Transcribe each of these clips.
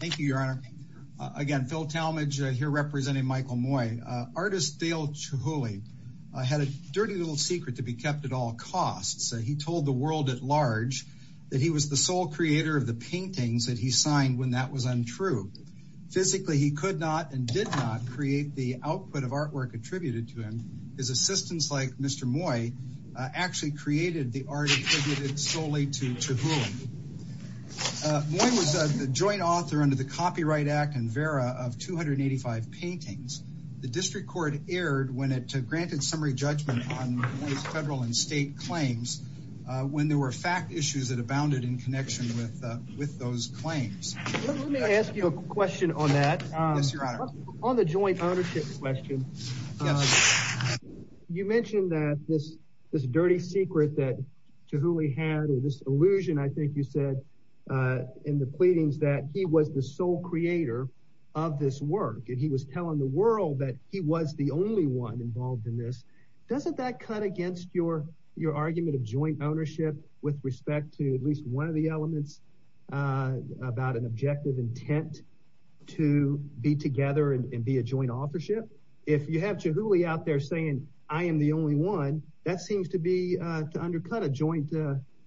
Thank you, Your Honor. Again, Phil Talmadge here representing Michael Moy. Artist Dale Chihuly had a dirty little secret to be kept at all costs. He told the world at large that he was the sole creator of the paintings that he signed when that was untrue. Physically, he could not and did not create the output of artwork attributed to him. His assistants, like Mr. Moy, actually created the art attributed solely to Chihuly. Moy was the joint author under the Copyright Act and VERA of 285 paintings. The District Court erred when it granted summary judgment on Moy's federal and state claims when there were fact issues that abounded in connection with those claims. Let me ask you a question on that. Yes, Your Honor. On the joint ownership question, you mentioned that this dirty secret that Chihuly had or this illusion, I think you said in the pleadings, that he was the sole creator of this work. He was telling the world that he was the only one involved in this. Doesn't that cut against your argument of joint ownership with respect to at least one of the elements about an objective intent to be together and be a joint authorship? If you have Chihuly out there saying, I am the only one, that seems to undercut a joint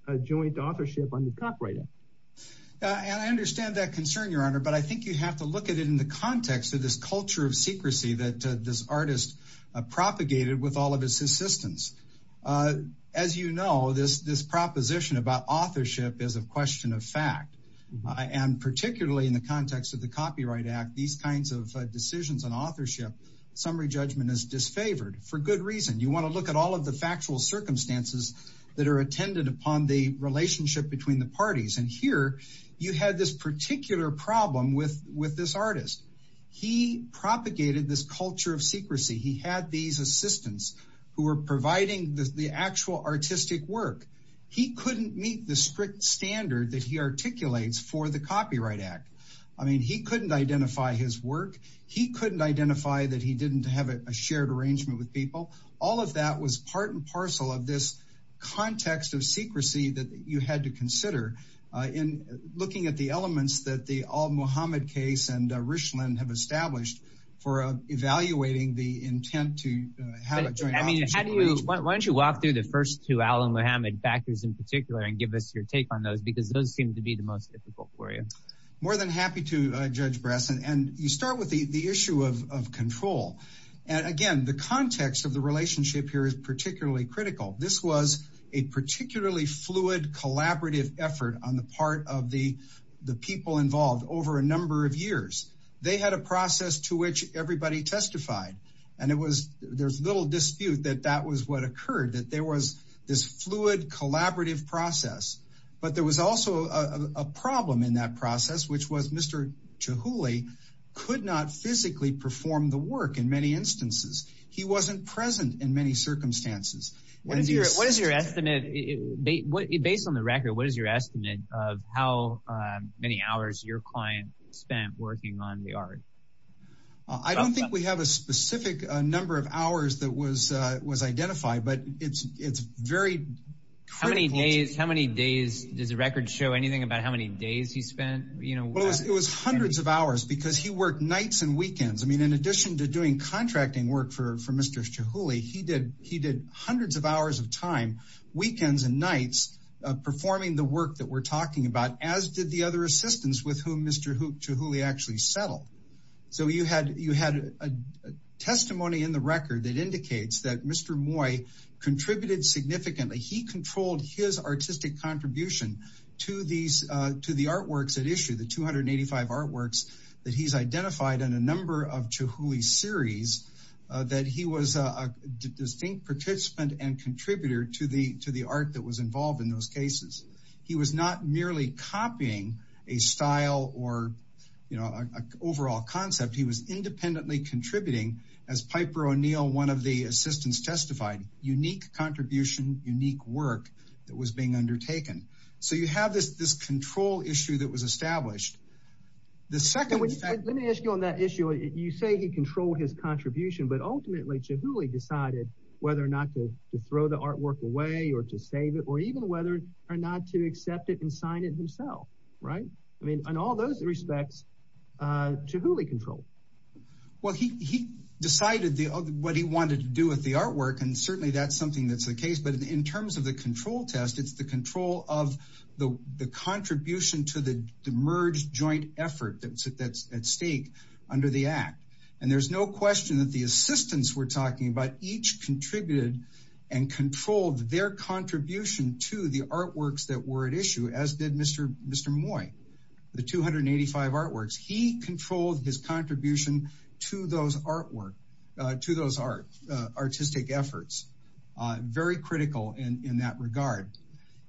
authorship under the Copyright Act. I understand that concern, Your Honor, but I think you have to look at it in the context of this culture of secrecy that this artist propagated with all of his assistants. As you know, this proposition about authorship is a question of fact. And particularly in the context of the Copyright Act, these kinds of decisions on authorship, summary judgment is disfavored for good reason. You want to look at all of the factual circumstances that are attended upon the relationship between the parties. And here you had this particular problem with this artist. He propagated this culture of secrecy. He had these assistants who were providing the actual artistic work. He couldn't meet the strict standard that he articulates for the Copyright Act. I mean, he couldn't identify his work. He couldn't identify that he didn't have a shared arrangement with people. All of that was part and parcel of this context of secrecy that you had to consider in looking at the elements that the Al-Muhammad case and Richland have established for evaluating the intent to have a joint authorship arrangement. Why don't you walk through the first two Al-Muhammad factors in particular and give us your take on those because those seem to be the most difficult for you. More than happy to, Judge Brassen. And you start with the issue of control. And again, the context of the relationship here is particularly critical. This was a particularly fluid, collaborative effort on the part of the people involved over a number of years. They had a process to which everybody testified. And there was little dispute that that was what occurred, that there was this fluid, collaborative process. But there was also a problem in that process, which was Mr. Chihuly could not physically perform the work in many instances. He wasn't present in many circumstances. What is your estimate? Based on the record, what is your estimate of how many hours your client spent working on the art? I don't think we have a specific number of hours that was identified, but it's very critical. How many days? Does the record show anything about how many days he spent? It was hundreds of hours because he worked nights and weekends. I mean, in addition to doing contracting work for Mr. Chihuly, he did hundreds of hours of time, weekends and nights, performing the work that we're talking about, as did the other assistants with whom Mr. Chihuly actually settled. So you had a testimony in the record that indicates that Mr. Moy contributed significantly. He controlled his artistic contribution to the artworks at issue, the 285 artworks that he's identified in a number of Chihuly series, that he was a distinct participant and contributor to the art that was involved in those cases. He was not merely copying a style or an overall concept. He was independently contributing, as Piper O'Neill, one of the assistants testified, unique contribution, unique work that was being undertaken. Let me ask you on that issue. You say he controlled his contribution, but ultimately Chihuly decided whether or not to throw the artwork away or to save it, or even whether or not to accept it and sign it himself, right? I mean, in all those respects, Chihuly controlled. Well, he decided what he wanted to do with the artwork, and certainly that's something that's the case. But in terms of the control test, it's the control of the contribution to the merged joint effort that's at stake under the act. And there's no question that the assistants we're talking about each contributed and controlled their contribution to the artworks that were at issue, as did Mr. Moy, the 285 artworks. He controlled his contribution to those artwork, to those artistic efforts. Very critical in that regard.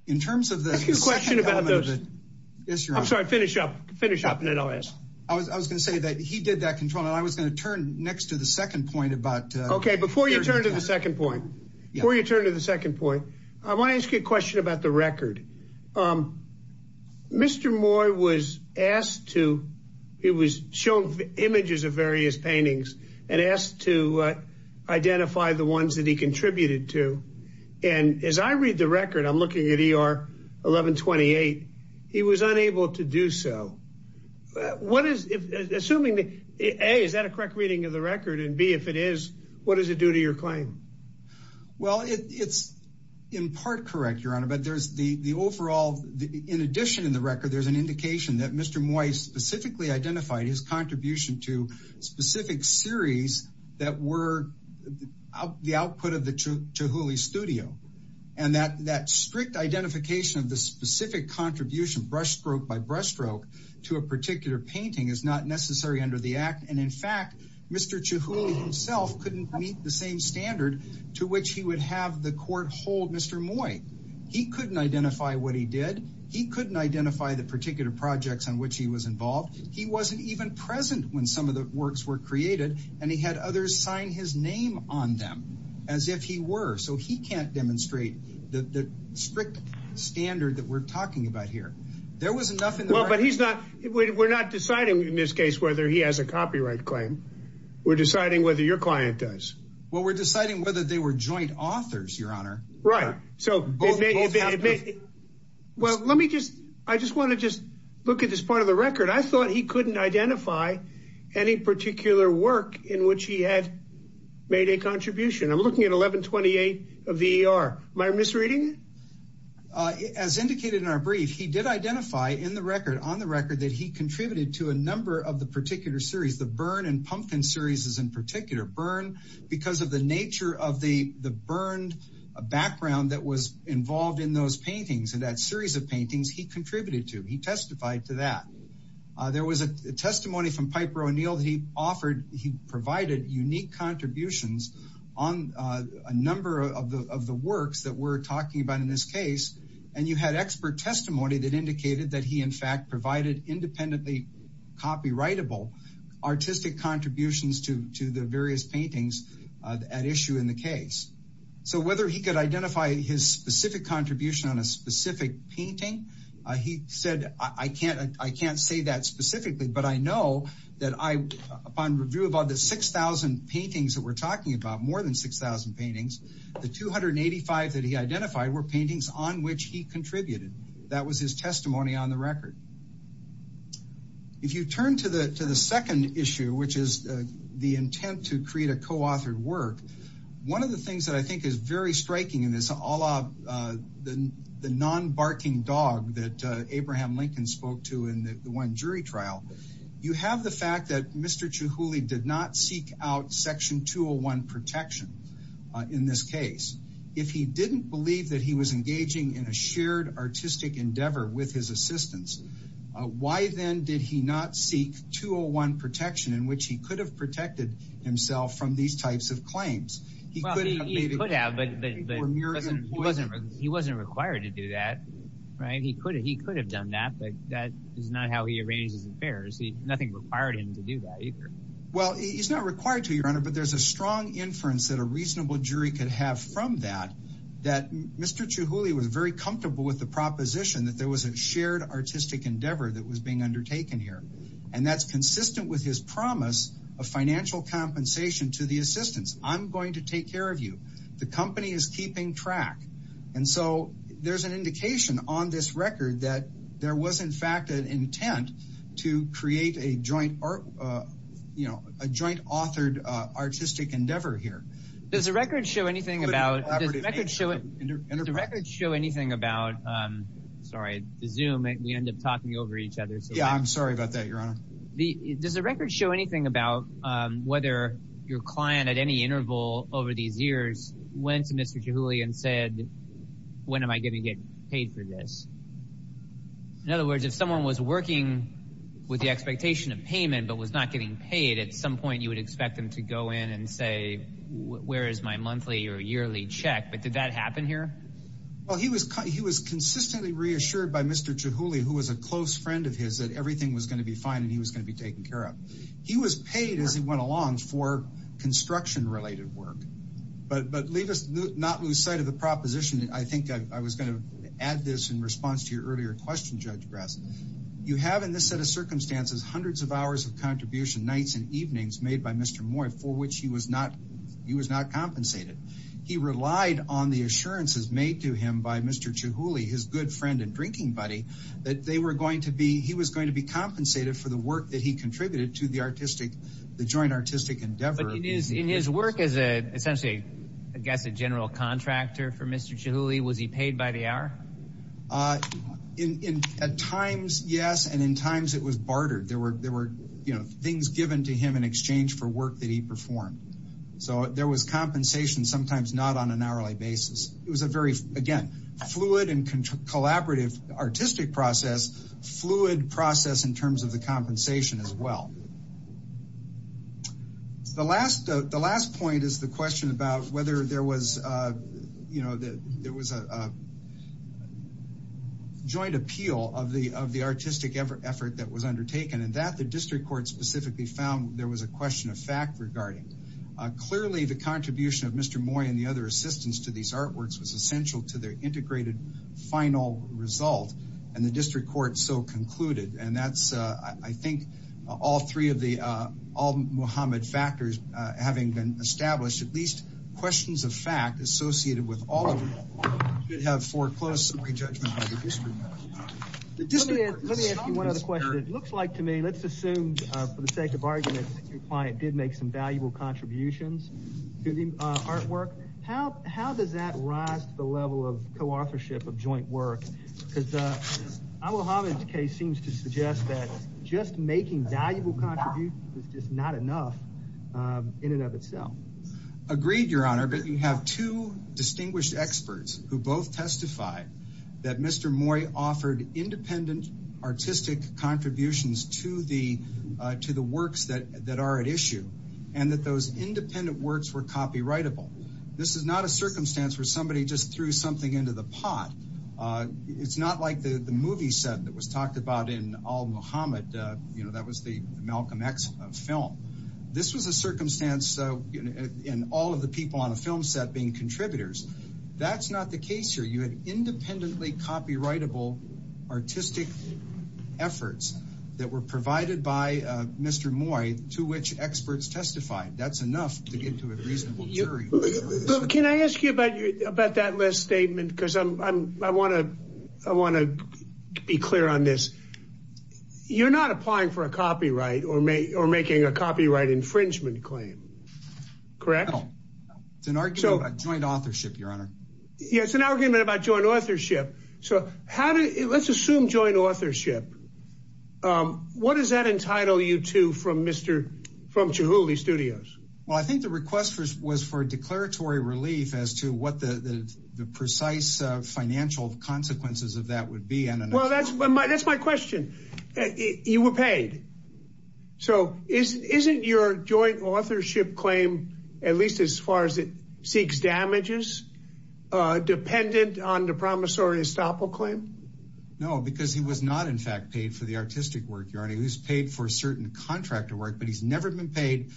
In terms of the second element of the issue... I have a question about those. I'm sorry, finish up, finish up, and then I'll ask. I was going to say that he did that control, and I was going to turn next to the second point about... Okay, before you turn to the second point, before you turn to the second point, I want to ask you a question about the record. Mr. Moy was asked to... He was shown images of various paintings and asked to identify the ones that he contributed to. And as I read the record, I'm looking at ER 1128, he was unable to do so. Assuming that, A, is that a correct reading of the record, and B, if it is, what does it do to your claim? Well, it's in part correct, Your Honor, but there's the overall... In addition in the record, there's an indication that Mr. Moy specifically identified his contribution to specific series that were the output of the Chihuly studio. And that strict identification of the specific contribution, brushstroke by brushstroke, to a particular painting is not necessary under the act. And in fact, Mr. Chihuly himself couldn't meet the same standard to which he would have the court hold Mr. Moy. He couldn't identify what he did. He couldn't identify the particular projects on which he was involved. He wasn't even present when some of the works were created, and he had others sign his name on them as if he were. So he can't demonstrate the strict standard that we're talking about here. Well, but we're not deciding in this case whether he has a copyright claim. We're deciding whether your client does. Well, we're deciding whether they were joint authors, Your Honor. Right. Well, let me just... I just want to just look at this part of the record. I thought he couldn't identify any particular work in which he had made a contribution. I'm looking at 1128 of the ER. Am I misreading it? As indicated in our brief, he did identify in the record, on the record, that he contributed to a number of the particular series, the Byrne and Pumpkin series in particular. Byrne, because of the nature of the Byrne background that was involved in those paintings and that series of paintings, he contributed to. He testified to that. There was a testimony from Piper O'Neill that he offered. He provided unique contributions on a number of the works that we're talking about in this case. And you had expert testimony that indicated that he, in fact, provided independently copyrightable artistic contributions to the various paintings at issue in the case. So whether he could identify his specific contribution on a specific painting, he said, I can't say that specifically, but I know that upon review of all the 6,000 paintings that we're talking about, more than 6,000 paintings, the 285 that he identified were paintings on which he contributed. That was his testimony on the record. If you turn to the second issue, which is the intent to create a co-authored work, one of the things that I think is very striking in this, a la the non-barking dog that Abraham Lincoln spoke to in the one jury trial, you have the fact that Mr. Chihuly did not seek out Section 201 protection in this case. If he didn't believe that he was engaging in a shared artistic endeavor with his assistants, why then did he not seek 201 protection in which he could have protected himself from these types of claims? He could have, but he wasn't required to do that. He could have done that, but that is not how he arranged his affairs. Nothing required him to do that either. Well, he's not required to, Your Honor, but there's a strong inference that a reasonable jury could have from that, that Mr. Chihuly was very comfortable with the proposition that there was a shared artistic endeavor that was being undertaken here. And that's consistent with his promise of financial compensation to the assistants. I'm going to take care of you. The company is keeping track. And so there's an indication on this record that there was, in fact, an intent to create a joint, you know, a joint authored artistic endeavor here. Does the record show anything about, does the record show anything about, sorry, the Zoom, we end up talking over each other. Yeah, I'm sorry about that, Your Honor. Does the record show anything about whether your client at any interval over these years went to Mr. Chihuly and said, when am I going to get paid for this? In other words, if someone was working with the expectation of payment but was not getting paid, at some point you would expect them to go in and say, where is my monthly or yearly check? But did that happen here? Well, he was consistently reassured by Mr. Chihuly, who was a close friend of his, that everything was going to be fine and he was going to be taken care of. He was paid as he went along for construction-related work. But leave us not lose sight of the proposition. I think I was going to add this in response to your earlier question, Judge Grass. You have in this set of circumstances hundreds of hours of contribution, nights and evenings, made by Mr. Moy for which he was not compensated. He relied on the assurances made to him by Mr. Chihuly, his good friend and drinking buddy, that he was going to be compensated for the work that he contributed to the joint artistic endeavor. But in his work as essentially, I guess, a general contractor for Mr. Chihuly, was he paid by the hour? At times, yes, and in times it was bartered. There were things given to him in exchange for work that he performed. So there was compensation sometimes not on an hourly basis. It was a very, again, fluid and collaborative artistic process, fluid process in terms of the compensation as well. The last point is the question about whether there was, you know, there was a joint appeal of the artistic effort that was undertaken. And that the district court specifically found there was a question of fact regarding. Clearly the contribution of Mr. Moy and the other assistants to these artworks was essential to their integrated final result. And the district court so concluded. And that's, I think, all three of the, all Muhammad factors having been established, at least questions of fact associated with all of them, should have foreclosed some re-judgment by the district court. Let me ask you one other question. It looks like to me, let's assume for the sake of argument, your client did make some valuable contributions to the artwork. How does that rise to the level of co-authorship of joint work? Because I will have a case seems to suggest that just making valuable contributions is just not enough in and of itself. Agreed, Your Honor. But you have two distinguished experts who both testified that Mr. Moy offered independent artistic contributions to the works that are at issue. And that those independent works were copyrightable. This is not a circumstance where somebody just threw something into the pot. It's not like the movie set that was talked about in all Muhammad, you know, that was the Malcolm X film. This was a circumstance in all of the people on a film set being contributors. That's not the case here. You had independently copyrightable artistic efforts that were provided by Mr. Moy to which experts testified. That's enough to get to a reasonable jury. Can I ask you about that last statement? Because I want to be clear on this. You're not applying for a copyright or making a copyright infringement claim, correct? No. It's an argument about joint authorship, Your Honor. Yeah, it's an argument about joint authorship. So let's assume joint authorship. What does that entitle you to from Chihuly Studios? Well, I think the request was for declaratory relief as to what the precise financial consequences of that would be. Well, that's my question. You were paid. So isn't your joint authorship claim, at least as far as it seeks damages, dependent on the promissory estoppel claim? No, because he was not, in fact, paid for the artistic work, Your Honor. He was paid for certain contractor work, but he's never been paid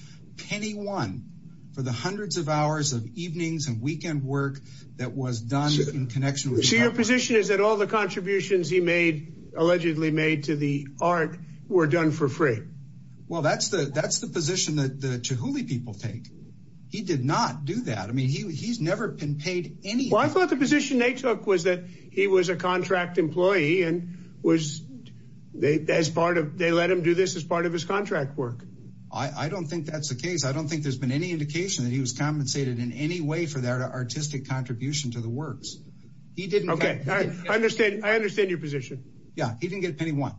penny one for the hundreds of hours of evenings and weekend work that was done in connection with copyright. His position is that all the contributions he made, allegedly made to the art, were done for free. Well, that's the position that the Chihuly people take. He did not do that. I mean, he's never been paid anything. Well, I thought the position they took was that he was a contract employee and they let him do this as part of his contract work. I don't think that's the case. I don't think there's been any indication that he was compensated in any way for that artistic contribution to the works. Okay. I understand your position. Yeah. He didn't get penny one.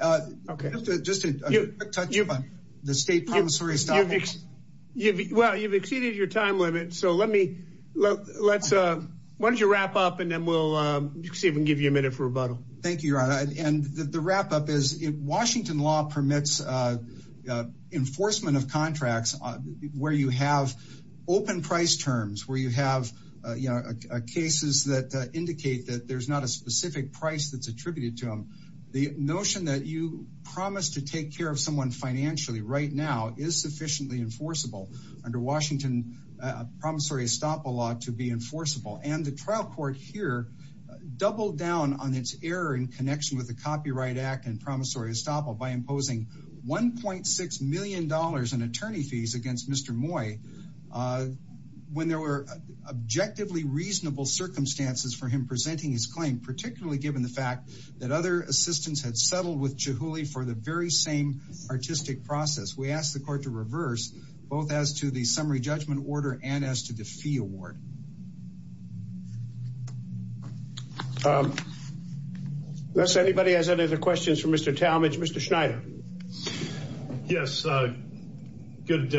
Okay. Just a quick touch on the state promissory estoppel. Well, you've exceeded your time limit, so why don't you wrap up and then we'll see if we can give you a minute for rebuttal. Thank you, Your Honor. And the wrap-up is Washington law permits enforcement of contracts where you have open price terms, where you have cases that indicate that there's not a specific price that's attributed to them. The notion that you promised to take care of someone financially right now is sufficiently enforceable under Washington promissory estoppel law to be enforceable. And the trial court here doubled down on its error in connection with the Copyright Act and promissory estoppel by imposing $1.6 million in attorney fees against Mr. Moy when there were objectively reasonable circumstances for him presenting his claim, particularly given the fact that other assistants had settled with Chihuly for the very same artistic process. We ask the court to reverse both as to the summary judgment order and as to the fee award. Unless anybody has any other questions for Mr. Talmadge. Mr. Schneider. Yes. Good.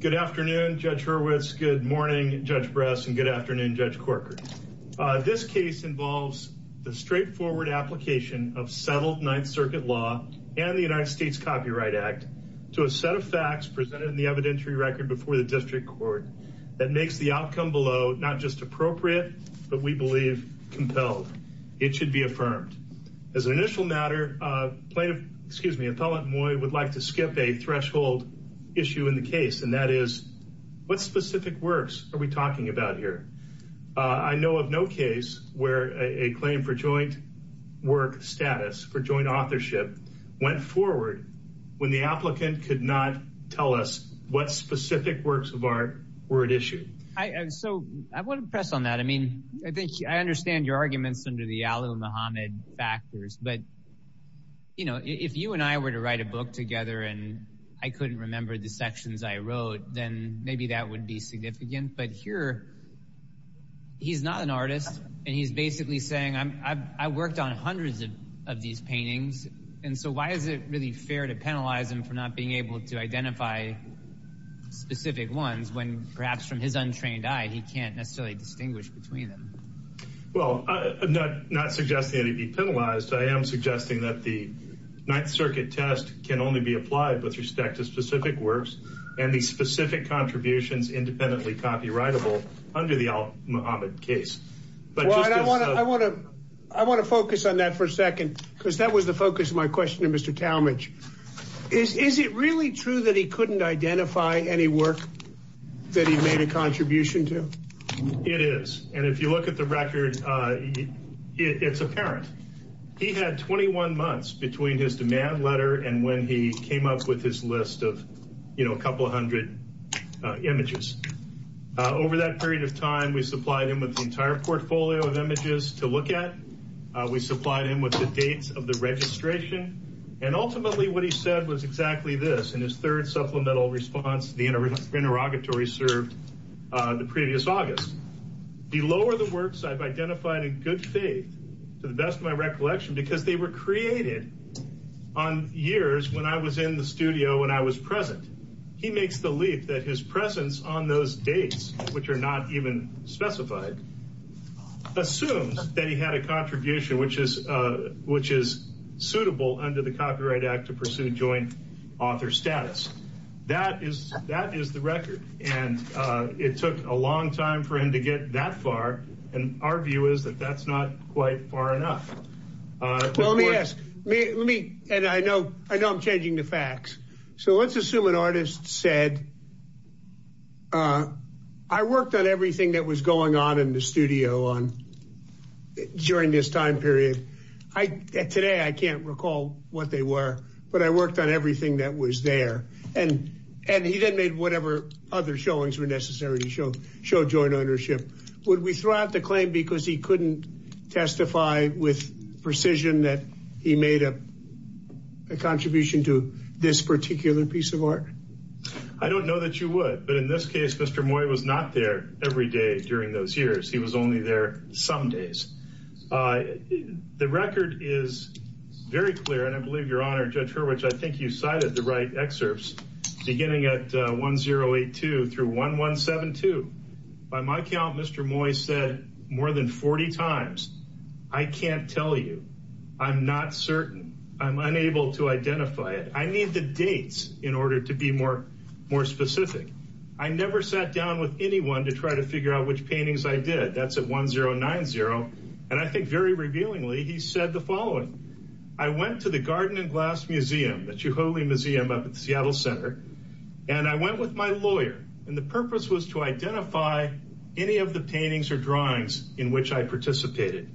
Good afternoon, Judge Hurwitz. Good morning, Judge Bress. And good afternoon, Judge Corker. This case involves the straightforward application of settled Ninth Circuit law and the United States Copyright Act to a set of facts presented in the evidentiary record before the district court. That makes the outcome below not just appropriate, but we believe compelled. It should be affirmed. As an initial matter, plaintiff, excuse me, appellant Moy would like to skip a threshold issue in the case. And that is what specific works are we talking about here? I know of no case where a claim for joint work status for joint authorship went forward when the applicant could not tell us what specific works of art were at issue. So I want to press on that. I mean, I think I understand your arguments under the al-Muhammad factors. But, you know, if you and I were to write a book together and I couldn't remember the sections I wrote, then maybe that would be significant. But here, he's not an artist. And he's basically saying I worked on hundreds of these paintings. And so why is it really fair to penalize him for not being able to identify specific ones when perhaps from his untrained eye he can't necessarily distinguish between them? Well, I'm not suggesting that he be penalized. I am suggesting that the Ninth Circuit test can only be applied with respect to specific works and the specific contributions independently copyrightable under the al-Muhammad case. I want to focus on that for a second because that was the focus of my question to Mr. Talmadge. Is it really true that he couldn't identify any work that he made a contribution to? It is. And if you look at the record, it's apparent. He had 21 months between his demand letter and when he came up with his list of, you know, a couple of hundred images. Over that period of time, we supplied him with the entire portfolio of images to look at. We supplied him with the dates of the registration. And ultimately, what he said was exactly this. In his third supplemental response, the interrogatory served the previous August. Below are the works I've identified in good faith, to the best of my recollection, because they were created on years when I was in the studio, when I was present. He makes the leap that his presence on those dates, which are not even specified, assumes that he had a contribution which is suitable under the Copyright Act to pursue joint author status. That is the record. And it took a long time for him to get that far. And our view is that that's not quite far enough. Let me ask me and I know I know I'm changing the facts. So let's assume an artist said. I worked on everything that was going on in the studio on during this time period. I today I can't recall what they were, but I worked on everything that was there. And and he then made whatever other showings were necessary to show show joint ownership. Would we throw out the claim because he couldn't testify with precision that he made a contribution to this particular piece of art? I don't know that you would. But in this case, Mr. Moy was not there every day during those years. He was only there some days. The record is very clear, and I believe your honor, Judge Hurwitz. I think you cited the right excerpts beginning at 1082 through 1172. By my count, Mr. Moy said more than 40 times. I can't tell you. I'm not certain. I'm unable to identify it. I need the dates in order to be more more specific. I never sat down with anyone to try to figure out which paintings I did. That's at 1090. And I think very revealingly, he said the following. I went to the Garden and Glass Museum, the Chihuly Museum up at the Seattle Center, and I went with my lawyer. And the purpose was to identify any of the paintings or drawings in which I participated.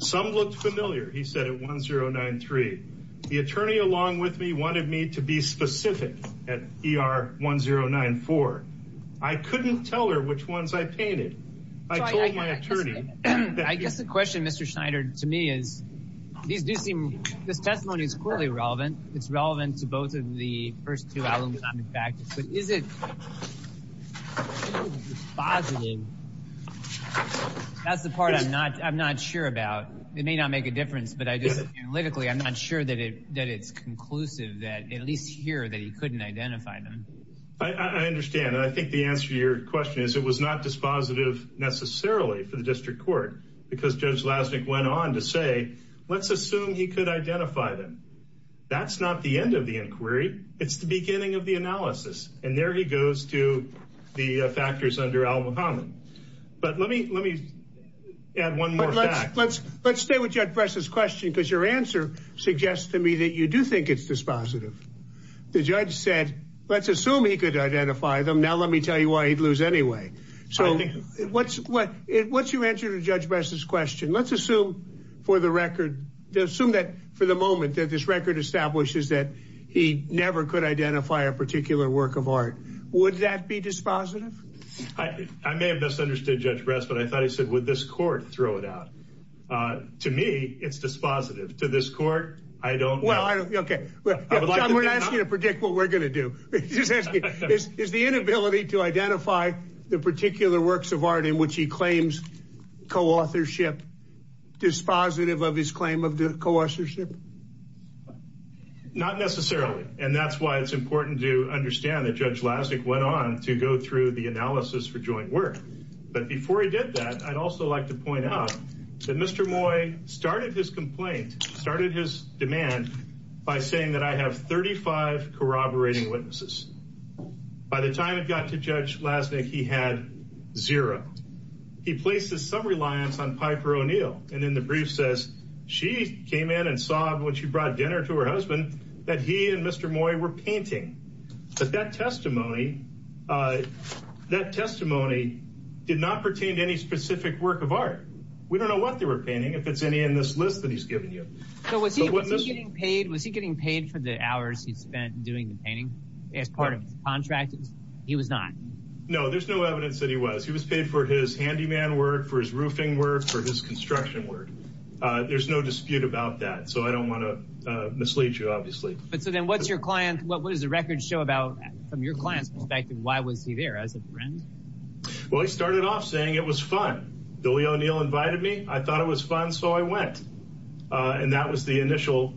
Some looked familiar. He said at 1093. The attorney along with me wanted me to be specific at ER 1094. I couldn't tell her which ones I painted. I told my attorney. I guess the question, Mr. Schneider, to me is, this testimony is clearly relevant. It's relevant to both of the first two elements of the practice. But is it dispositive? That's the part I'm not sure about. It may not make a difference. But analytically, I'm not sure that it's conclusive, at least here, that he couldn't identify them. I understand. And I think the answer to your question is it was not dispositive necessarily for the district court, because Judge Lassnick went on to say, let's assume he could identify them. That's not the end of the inquiry. It's the beginning of the analysis. And there he goes to the factors under Al Muhammad. But let me let me add one more fact. Let's stay with Judge Bress's question, because your answer suggests to me that you do think it's dispositive. The judge said, let's assume he could identify them. Now let me tell you why he'd lose anyway. So what's what? What's your answer to Judge Bress's question? Let's assume for the record, assume that for the moment that this record establishes that he never could identify a particular work of art. Would that be dispositive? I may have misunderstood Judge Bress, but I thought he said, would this court throw it out? To me, it's dispositive to this court. I don't. Well, I don't. OK, well, I'm going to ask you to predict what we're going to do. Is the inability to identify the particular works of art in which he claims co-authorship dispositive of his claim of co-authorship? Not necessarily. And that's why it's important to understand that Judge Lassnick went on to go through the analysis for joint work. But before he did that, I'd also like to point out that Mr. Moy started his complaint, started his demand by saying that I have 35 corroborating witnesses. By the time it got to Judge Lassnick, he had zero. He places some reliance on Piper O'Neill. And then the brief says she came in and saw when she brought dinner to her husband that he and Mr. Moy were painting. But that testimony, that testimony did not pertain to any specific work of art. We don't know what they were painting. If it's any in this list that he's given you. So was he getting paid for the hours he spent doing the painting as part of his contract? He was not. No, there's no evidence that he was. He was paid for his handyman work, for his roofing work, for his construction work. There's no dispute about that. So I don't want to mislead you, obviously. But so then what's your client, what does the record show about from your client's perspective? Why was he there as a friend? Well, he started off saying it was fun. Billy O'Neill invited me. I thought it was fun, so I went. And that was the initial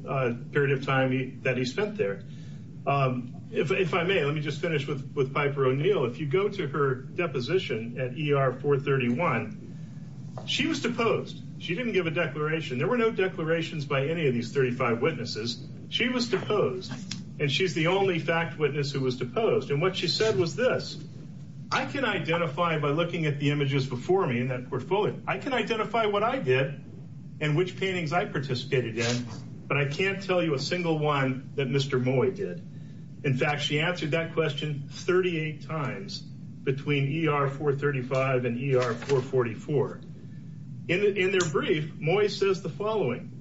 period of time that he spent there. If I may, let me just finish with Piper O'Neill. If you go to her deposition at ER 431, she was deposed. She didn't give a declaration. There were no declarations by any of these 35 witnesses. She was deposed, and she's the only fact witness who was deposed. And what she said was this. I can identify by looking at the images before me in that portfolio. I can identify what I did and which paintings I participated in, but I can't tell you a single one that Mr. Moy did. In fact, she answered that question 38 times between ER 435 and ER 444. In their brief, Moy says the following.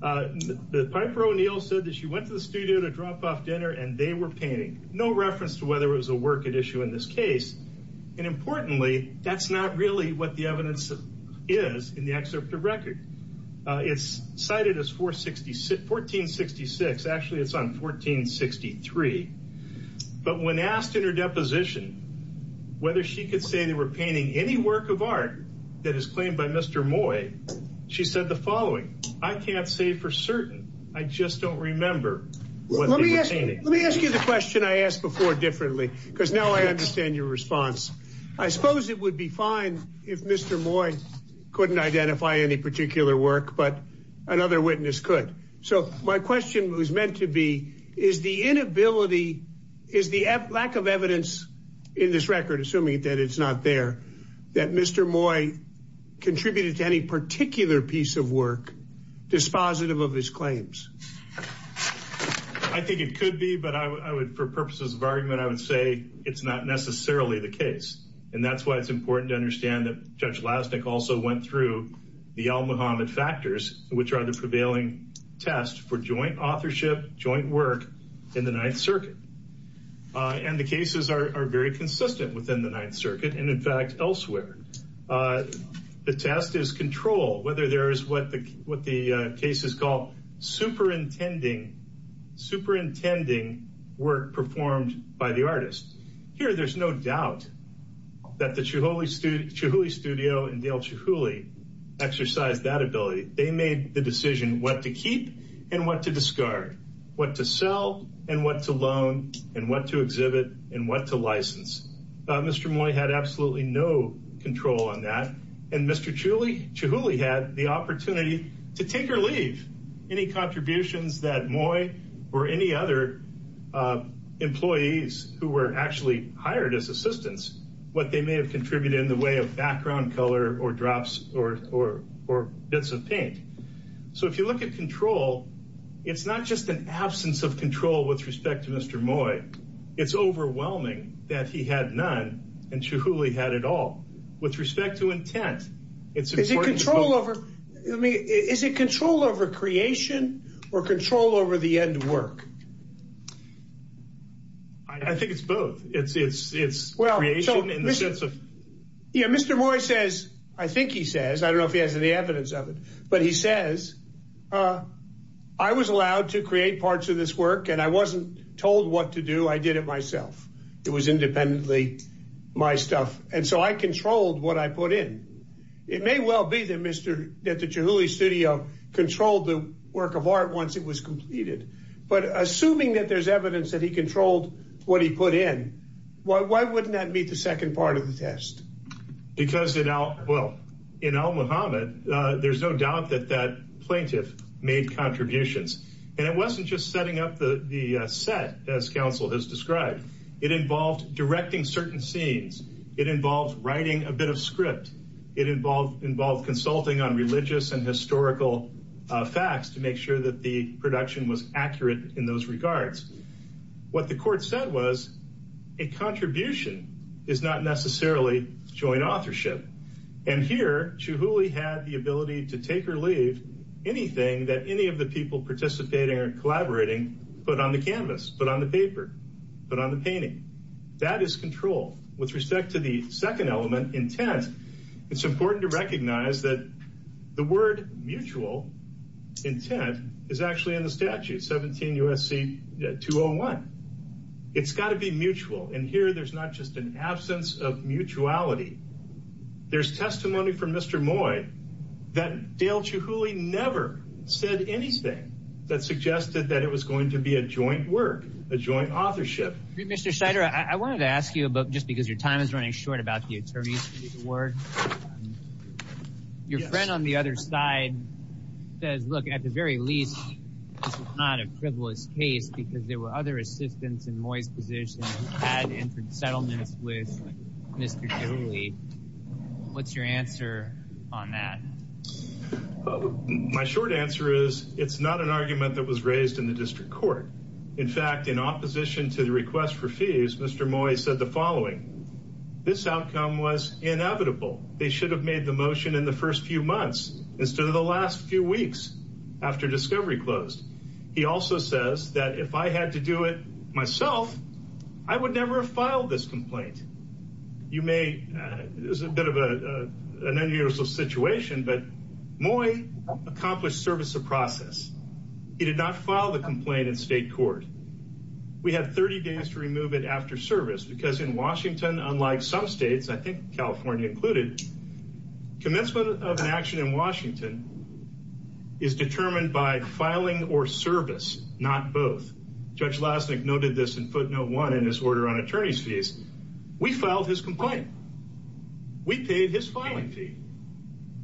Piper O'Neill said that she went to the studio to drop off dinner, and they were painting. No reference to whether it was a work at issue in this case. And importantly, that's not really what the evidence is in the excerpt of record. It's cited as 1466. Actually, it's on 1463. But when asked in her deposition whether she could say they were painting any work of art that is claimed by Mr. Moy, she said the following. I can't say for certain. I just don't remember what they were painting. Let me ask you the question I asked before differently, because now I understand your response. I suppose it would be fine if Mr. Moy couldn't identify any particular work, but another witness could. So my question was meant to be, is the inability, is the lack of evidence in this record, assuming that it's not there, that Mr. Moy contributed to any particular piece of work dispositive of his claims? I think it could be, but I would for purposes of argument, I would say it's not necessarily the case. And that's why it's important to understand that Judge Lasnik also went through the Al-Muhammad factors, which are the prevailing test for joint authorship, joint work in the Ninth Circuit. And the cases are very consistent within the Ninth Circuit and, in fact, elsewhere. The test is control, whether there is what the what the case is called superintending, superintending work performed by the artist. Here, there's no doubt that the Chihuly Studio and Dale Chihuly exercised that ability. They made the decision what to keep and what to discard, what to sell and what to loan and what to exhibit and what to license. Mr. Moy had absolutely no control on that. And Mr. Chihuly had the opportunity to take or leave any contributions that Moy or any other employees who were actually hired as assistants, what they may have contributed in the way of background color or drops or bits of paint. So if you look at control, it's not just an absence of control with respect to Mr. Moy. It's overwhelming that he had none and Chihuly had it all with respect to intent. It's a control over me. Is it control over creation or control over the end work? I think it's both. It's it's it's well. Yeah. Mr. Moy says I think he says I don't know if he has any evidence of it, but he says I was allowed to create parts of this work and I wasn't told what to do. I did it myself. It was independently my stuff. And so I controlled what I put in. It may well be that Mr. Chihuly Studio controlled the work of art once it was completed. But assuming that there's evidence that he controlled what he put in, why wouldn't that meet the second part of the test? Because, you know, well, you know, Mohammed, there's no doubt that that plaintiff made contributions. And it wasn't just setting up the set, as counsel has described. It involved directing certain scenes. It involves writing a bit of script. It involved involved consulting on religious and historical facts to make sure that the production was accurate in those regards. What the court said was a contribution is not necessarily joint authorship. And here, Chihuly had the ability to take or leave anything that any of the people participating or collaborating put on the canvas, put on the paper, put on the painting. That is control. With respect to the second element, intent, it's important to recognize that the word mutual intent is actually in the statute 17 U.S.C. 201. It's got to be mutual. And here there's not just an absence of mutuality. There's testimony from Mr. Moy that Dale Chihuly never said anything that suggested that it was going to be a joint work, a joint authorship. Mr. Scheider, I wanted to ask you about just because your time is running short about the attorneys award. Your friend on the other side says, look, at the very least, it's not a frivolous case because there were other assistants in Moy's position that entered settlements with Mr. Chihuly. What's your answer on that? My short answer is it's not an argument that was raised in the district court. In fact, in opposition to the request for fees, Mr. Moy said the following. This outcome was inevitable. They should have made the motion in the first few months instead of the last few weeks after discovery closed. He also says that if I had to do it myself, I would never have filed this complaint. You may, this is a bit of an unusual situation, but Moy accomplished service of process. He did not file the complaint in state court. We have 30 days to remove it after service because in Washington, unlike some states, I think California included, commencement of an action in Washington is determined by filing or service, not both. Judge Lasnik noted this in footnote one in his order on attorney's fees. We filed his complaint. We paid his filing fee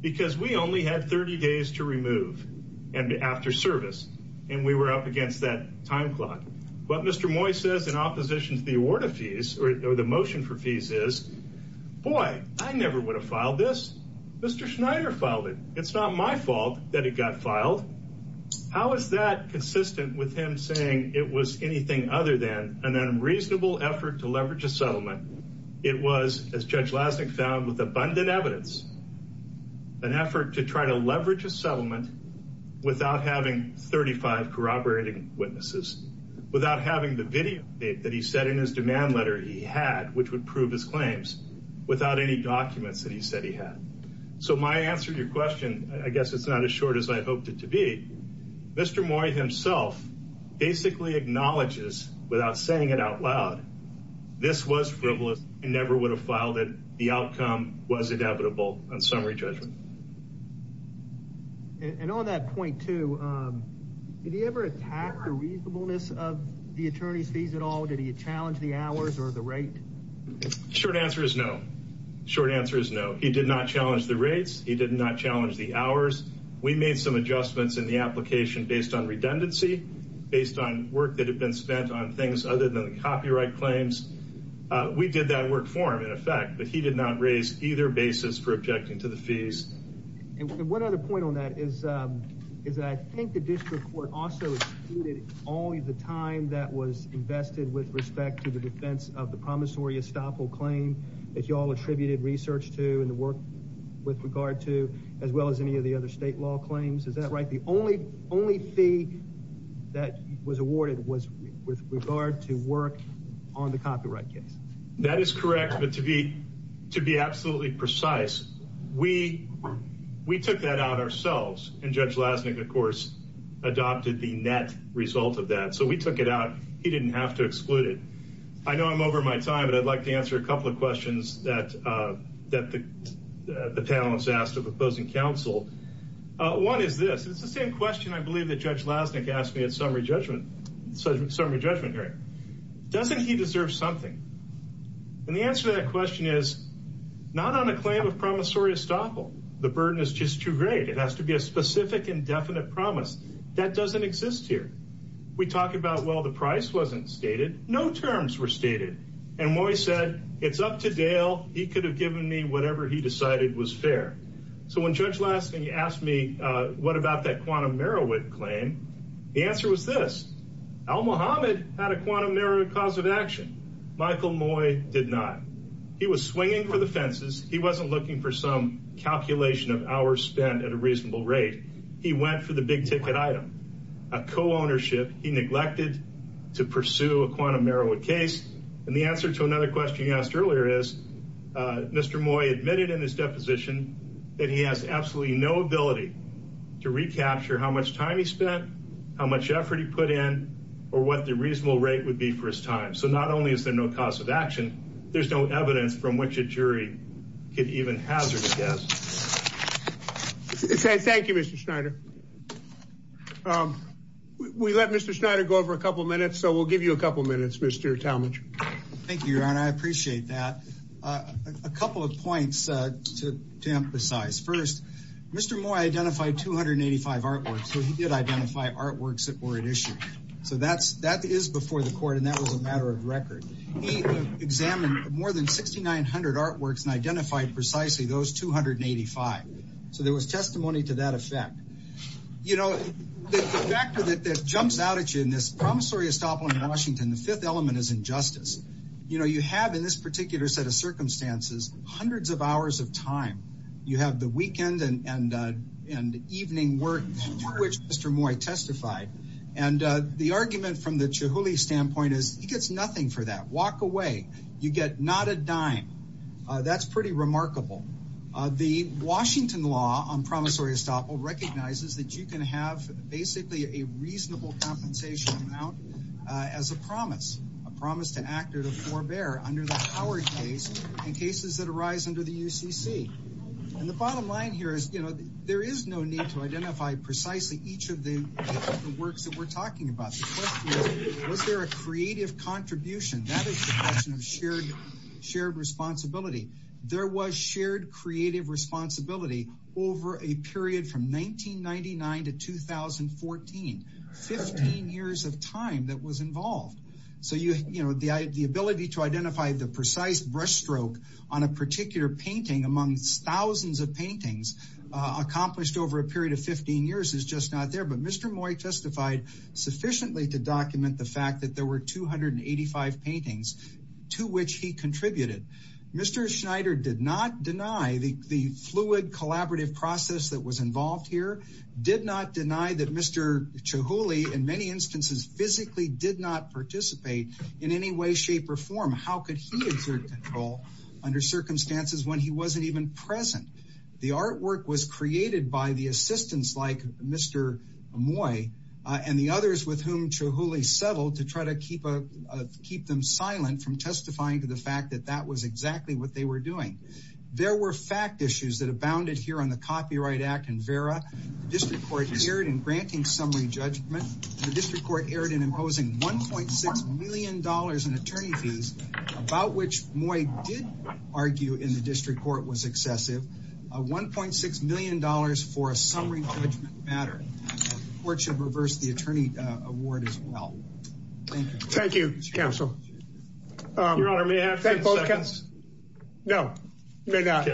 because we only had 30 days to remove and after service and we were up against that time clock. But Mr. Moy says in opposition to the award of fees or the motion for fees is, boy, I never would have filed this. Mr. Schneider filed it. It's not my fault that it got filed. How is that consistent with him saying it was anything other than an unreasonable effort to leverage a settlement? It was, as Judge Lasnik found with abundant evidence. An effort to try to leverage a settlement without having 35 corroborating witnesses, without having the video that he said in his demand letter he had, which would prove his claims without any documents that he said he had. So my answer to your question, I guess it's not as short as I hoped it to be. Mr. Moy himself basically acknowledges without saying it out loud. This was frivolous and never would have filed it. The outcome was inevitable on summary judgment. And on that point, too, did he ever attack the reasonableness of the attorney's fees at all? Did he challenge the hours or the rate? Short answer is no. Short answer is no. He did not challenge the rates. He did not challenge the hours. We made some adjustments in the application based on redundancy, based on work that had been spent on things other than the copyright claims. We did that work for him, in effect, but he did not raise either basis for objecting to the fees. And one other point on that is that I think the district court also disputed all the time that was invested with respect to the defense of the promissory estoppel claim that you all attributed research to and the work with regard to, as well as any of the other state law claims. Is that right? The only only fee that was awarded was with regard to work on the copyright case. That is correct. But to be to be absolutely precise, we we took that out ourselves. And Judge Lassnick, of course, adopted the net result of that. So we took it out. He didn't have to exclude it. I know I'm over my time, but I'd like to answer a couple of questions that that the panel has asked of opposing counsel. One is this. It's the same question I believe that Judge Lassnick asked me at summary judgment, summary judgment hearing. Doesn't he deserve something? And the answer to that question is not on a claim of promissory estoppel. The burden is just too great. It has to be a specific, indefinite promise that doesn't exist here. We talk about, well, the price wasn't stated. No terms were stated. And Moy said, it's up to Dale. He could have given me whatever he decided was fair. So when Judge Lassnick asked me, what about that quantum Merowith claim? The answer was this. Al Mohamed had a quantum Merowith cause of action. Michael Moy did not. He was swinging for the fences. He wasn't looking for some calculation of hours spent at a reasonable rate. He went for the big ticket item. A co-ownership he neglected to pursue a quantum Merowith case. And the answer to another question you asked earlier is Mr. Moy admitted in his deposition that he has absolutely no ability to recapture how much time he spent, how much effort he put in, or what the reasonable rate would be for his time. So not only is there no cause of action, there's no evidence from which a jury could even hazard a guess. Thank you, Mr. Schneider. We let Mr. Schneider go over a couple of minutes. So we'll give you a couple of minutes, Mr. Talmadge. Thank you, Your Honor. I appreciate that. A couple of points to emphasize. First, Mr. Moy identified 285 artworks. So he did identify artworks that were at issue. So that is before the court, and that was a matter of record. He examined more than 6,900 artworks and identified precisely those 285. So there was testimony to that effect. You know, the factor that jumps out at you in this promissory estoppel in Washington, the fifth element is injustice. You know, you have in this particular set of circumstances hundreds of hours of time. You have the weekend and evening work to which Mr. Moy testified. And the argument from the Chihuly standpoint is he gets nothing for that. Walk away. You get not a dime. That's pretty remarkable. The Washington law on promissory estoppel recognizes that you can have basically a reasonable compensation amount as a promise, a promise to act or to forbear under the Howard case and cases that arise under the UCC. And the bottom line here is, you know, there is no need to identify precisely each of the works that we're talking about. The question is, was there a creative contribution? That is the question of shared responsibility. There was shared creative responsibility over a period from 1999 to 2014, 15 years of time that was involved. So, you know, the ability to identify the precise brush stroke on a particular painting among thousands of paintings accomplished over a period of 15 years is just not there. But Mr. Moy testified sufficiently to document the fact that there were 285 paintings to which he contributed. Mr. Schneider did not deny the fluid collaborative process that was involved here, did not deny that Mr. Chihuly, in many instances, physically did not participate in any way, shape, or form. How could he exert control under circumstances when he wasn't even present? The artwork was created by the assistants like Mr. Moy and the others with whom Chihuly settled to try to keep them silent from testifying to the fact that that was exactly what they were doing. There were fact issues that abounded here on the Copyright Act and VERA. The district court erred in granting summary judgment. The district court erred in imposing $1.6 million in attorney fees, about which Moy did argue in the district court was excessive, $1.6 million for a summary judgment matter. The court should reverse the attorney award as well. Thank you. Thank you, Mr. Counsel. Your Honor, may I have 10 seconds? No, you may not.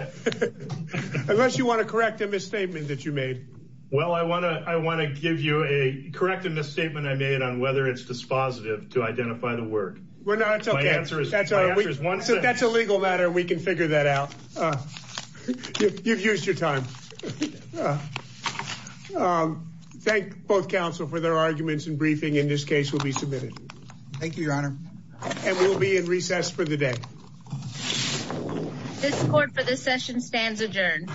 Unless you want to correct a misstatement that you made. Well, I want to give you a corrective misstatement I made on whether it's dispositive to identify the work. My answer is one second. That's a legal matter. We can figure that out. You've used your time. Thank both counsel for their arguments and briefing. This case will be submitted. Thank you, Your Honor. And we'll be in recess for the day. This court for this session stands adjourned.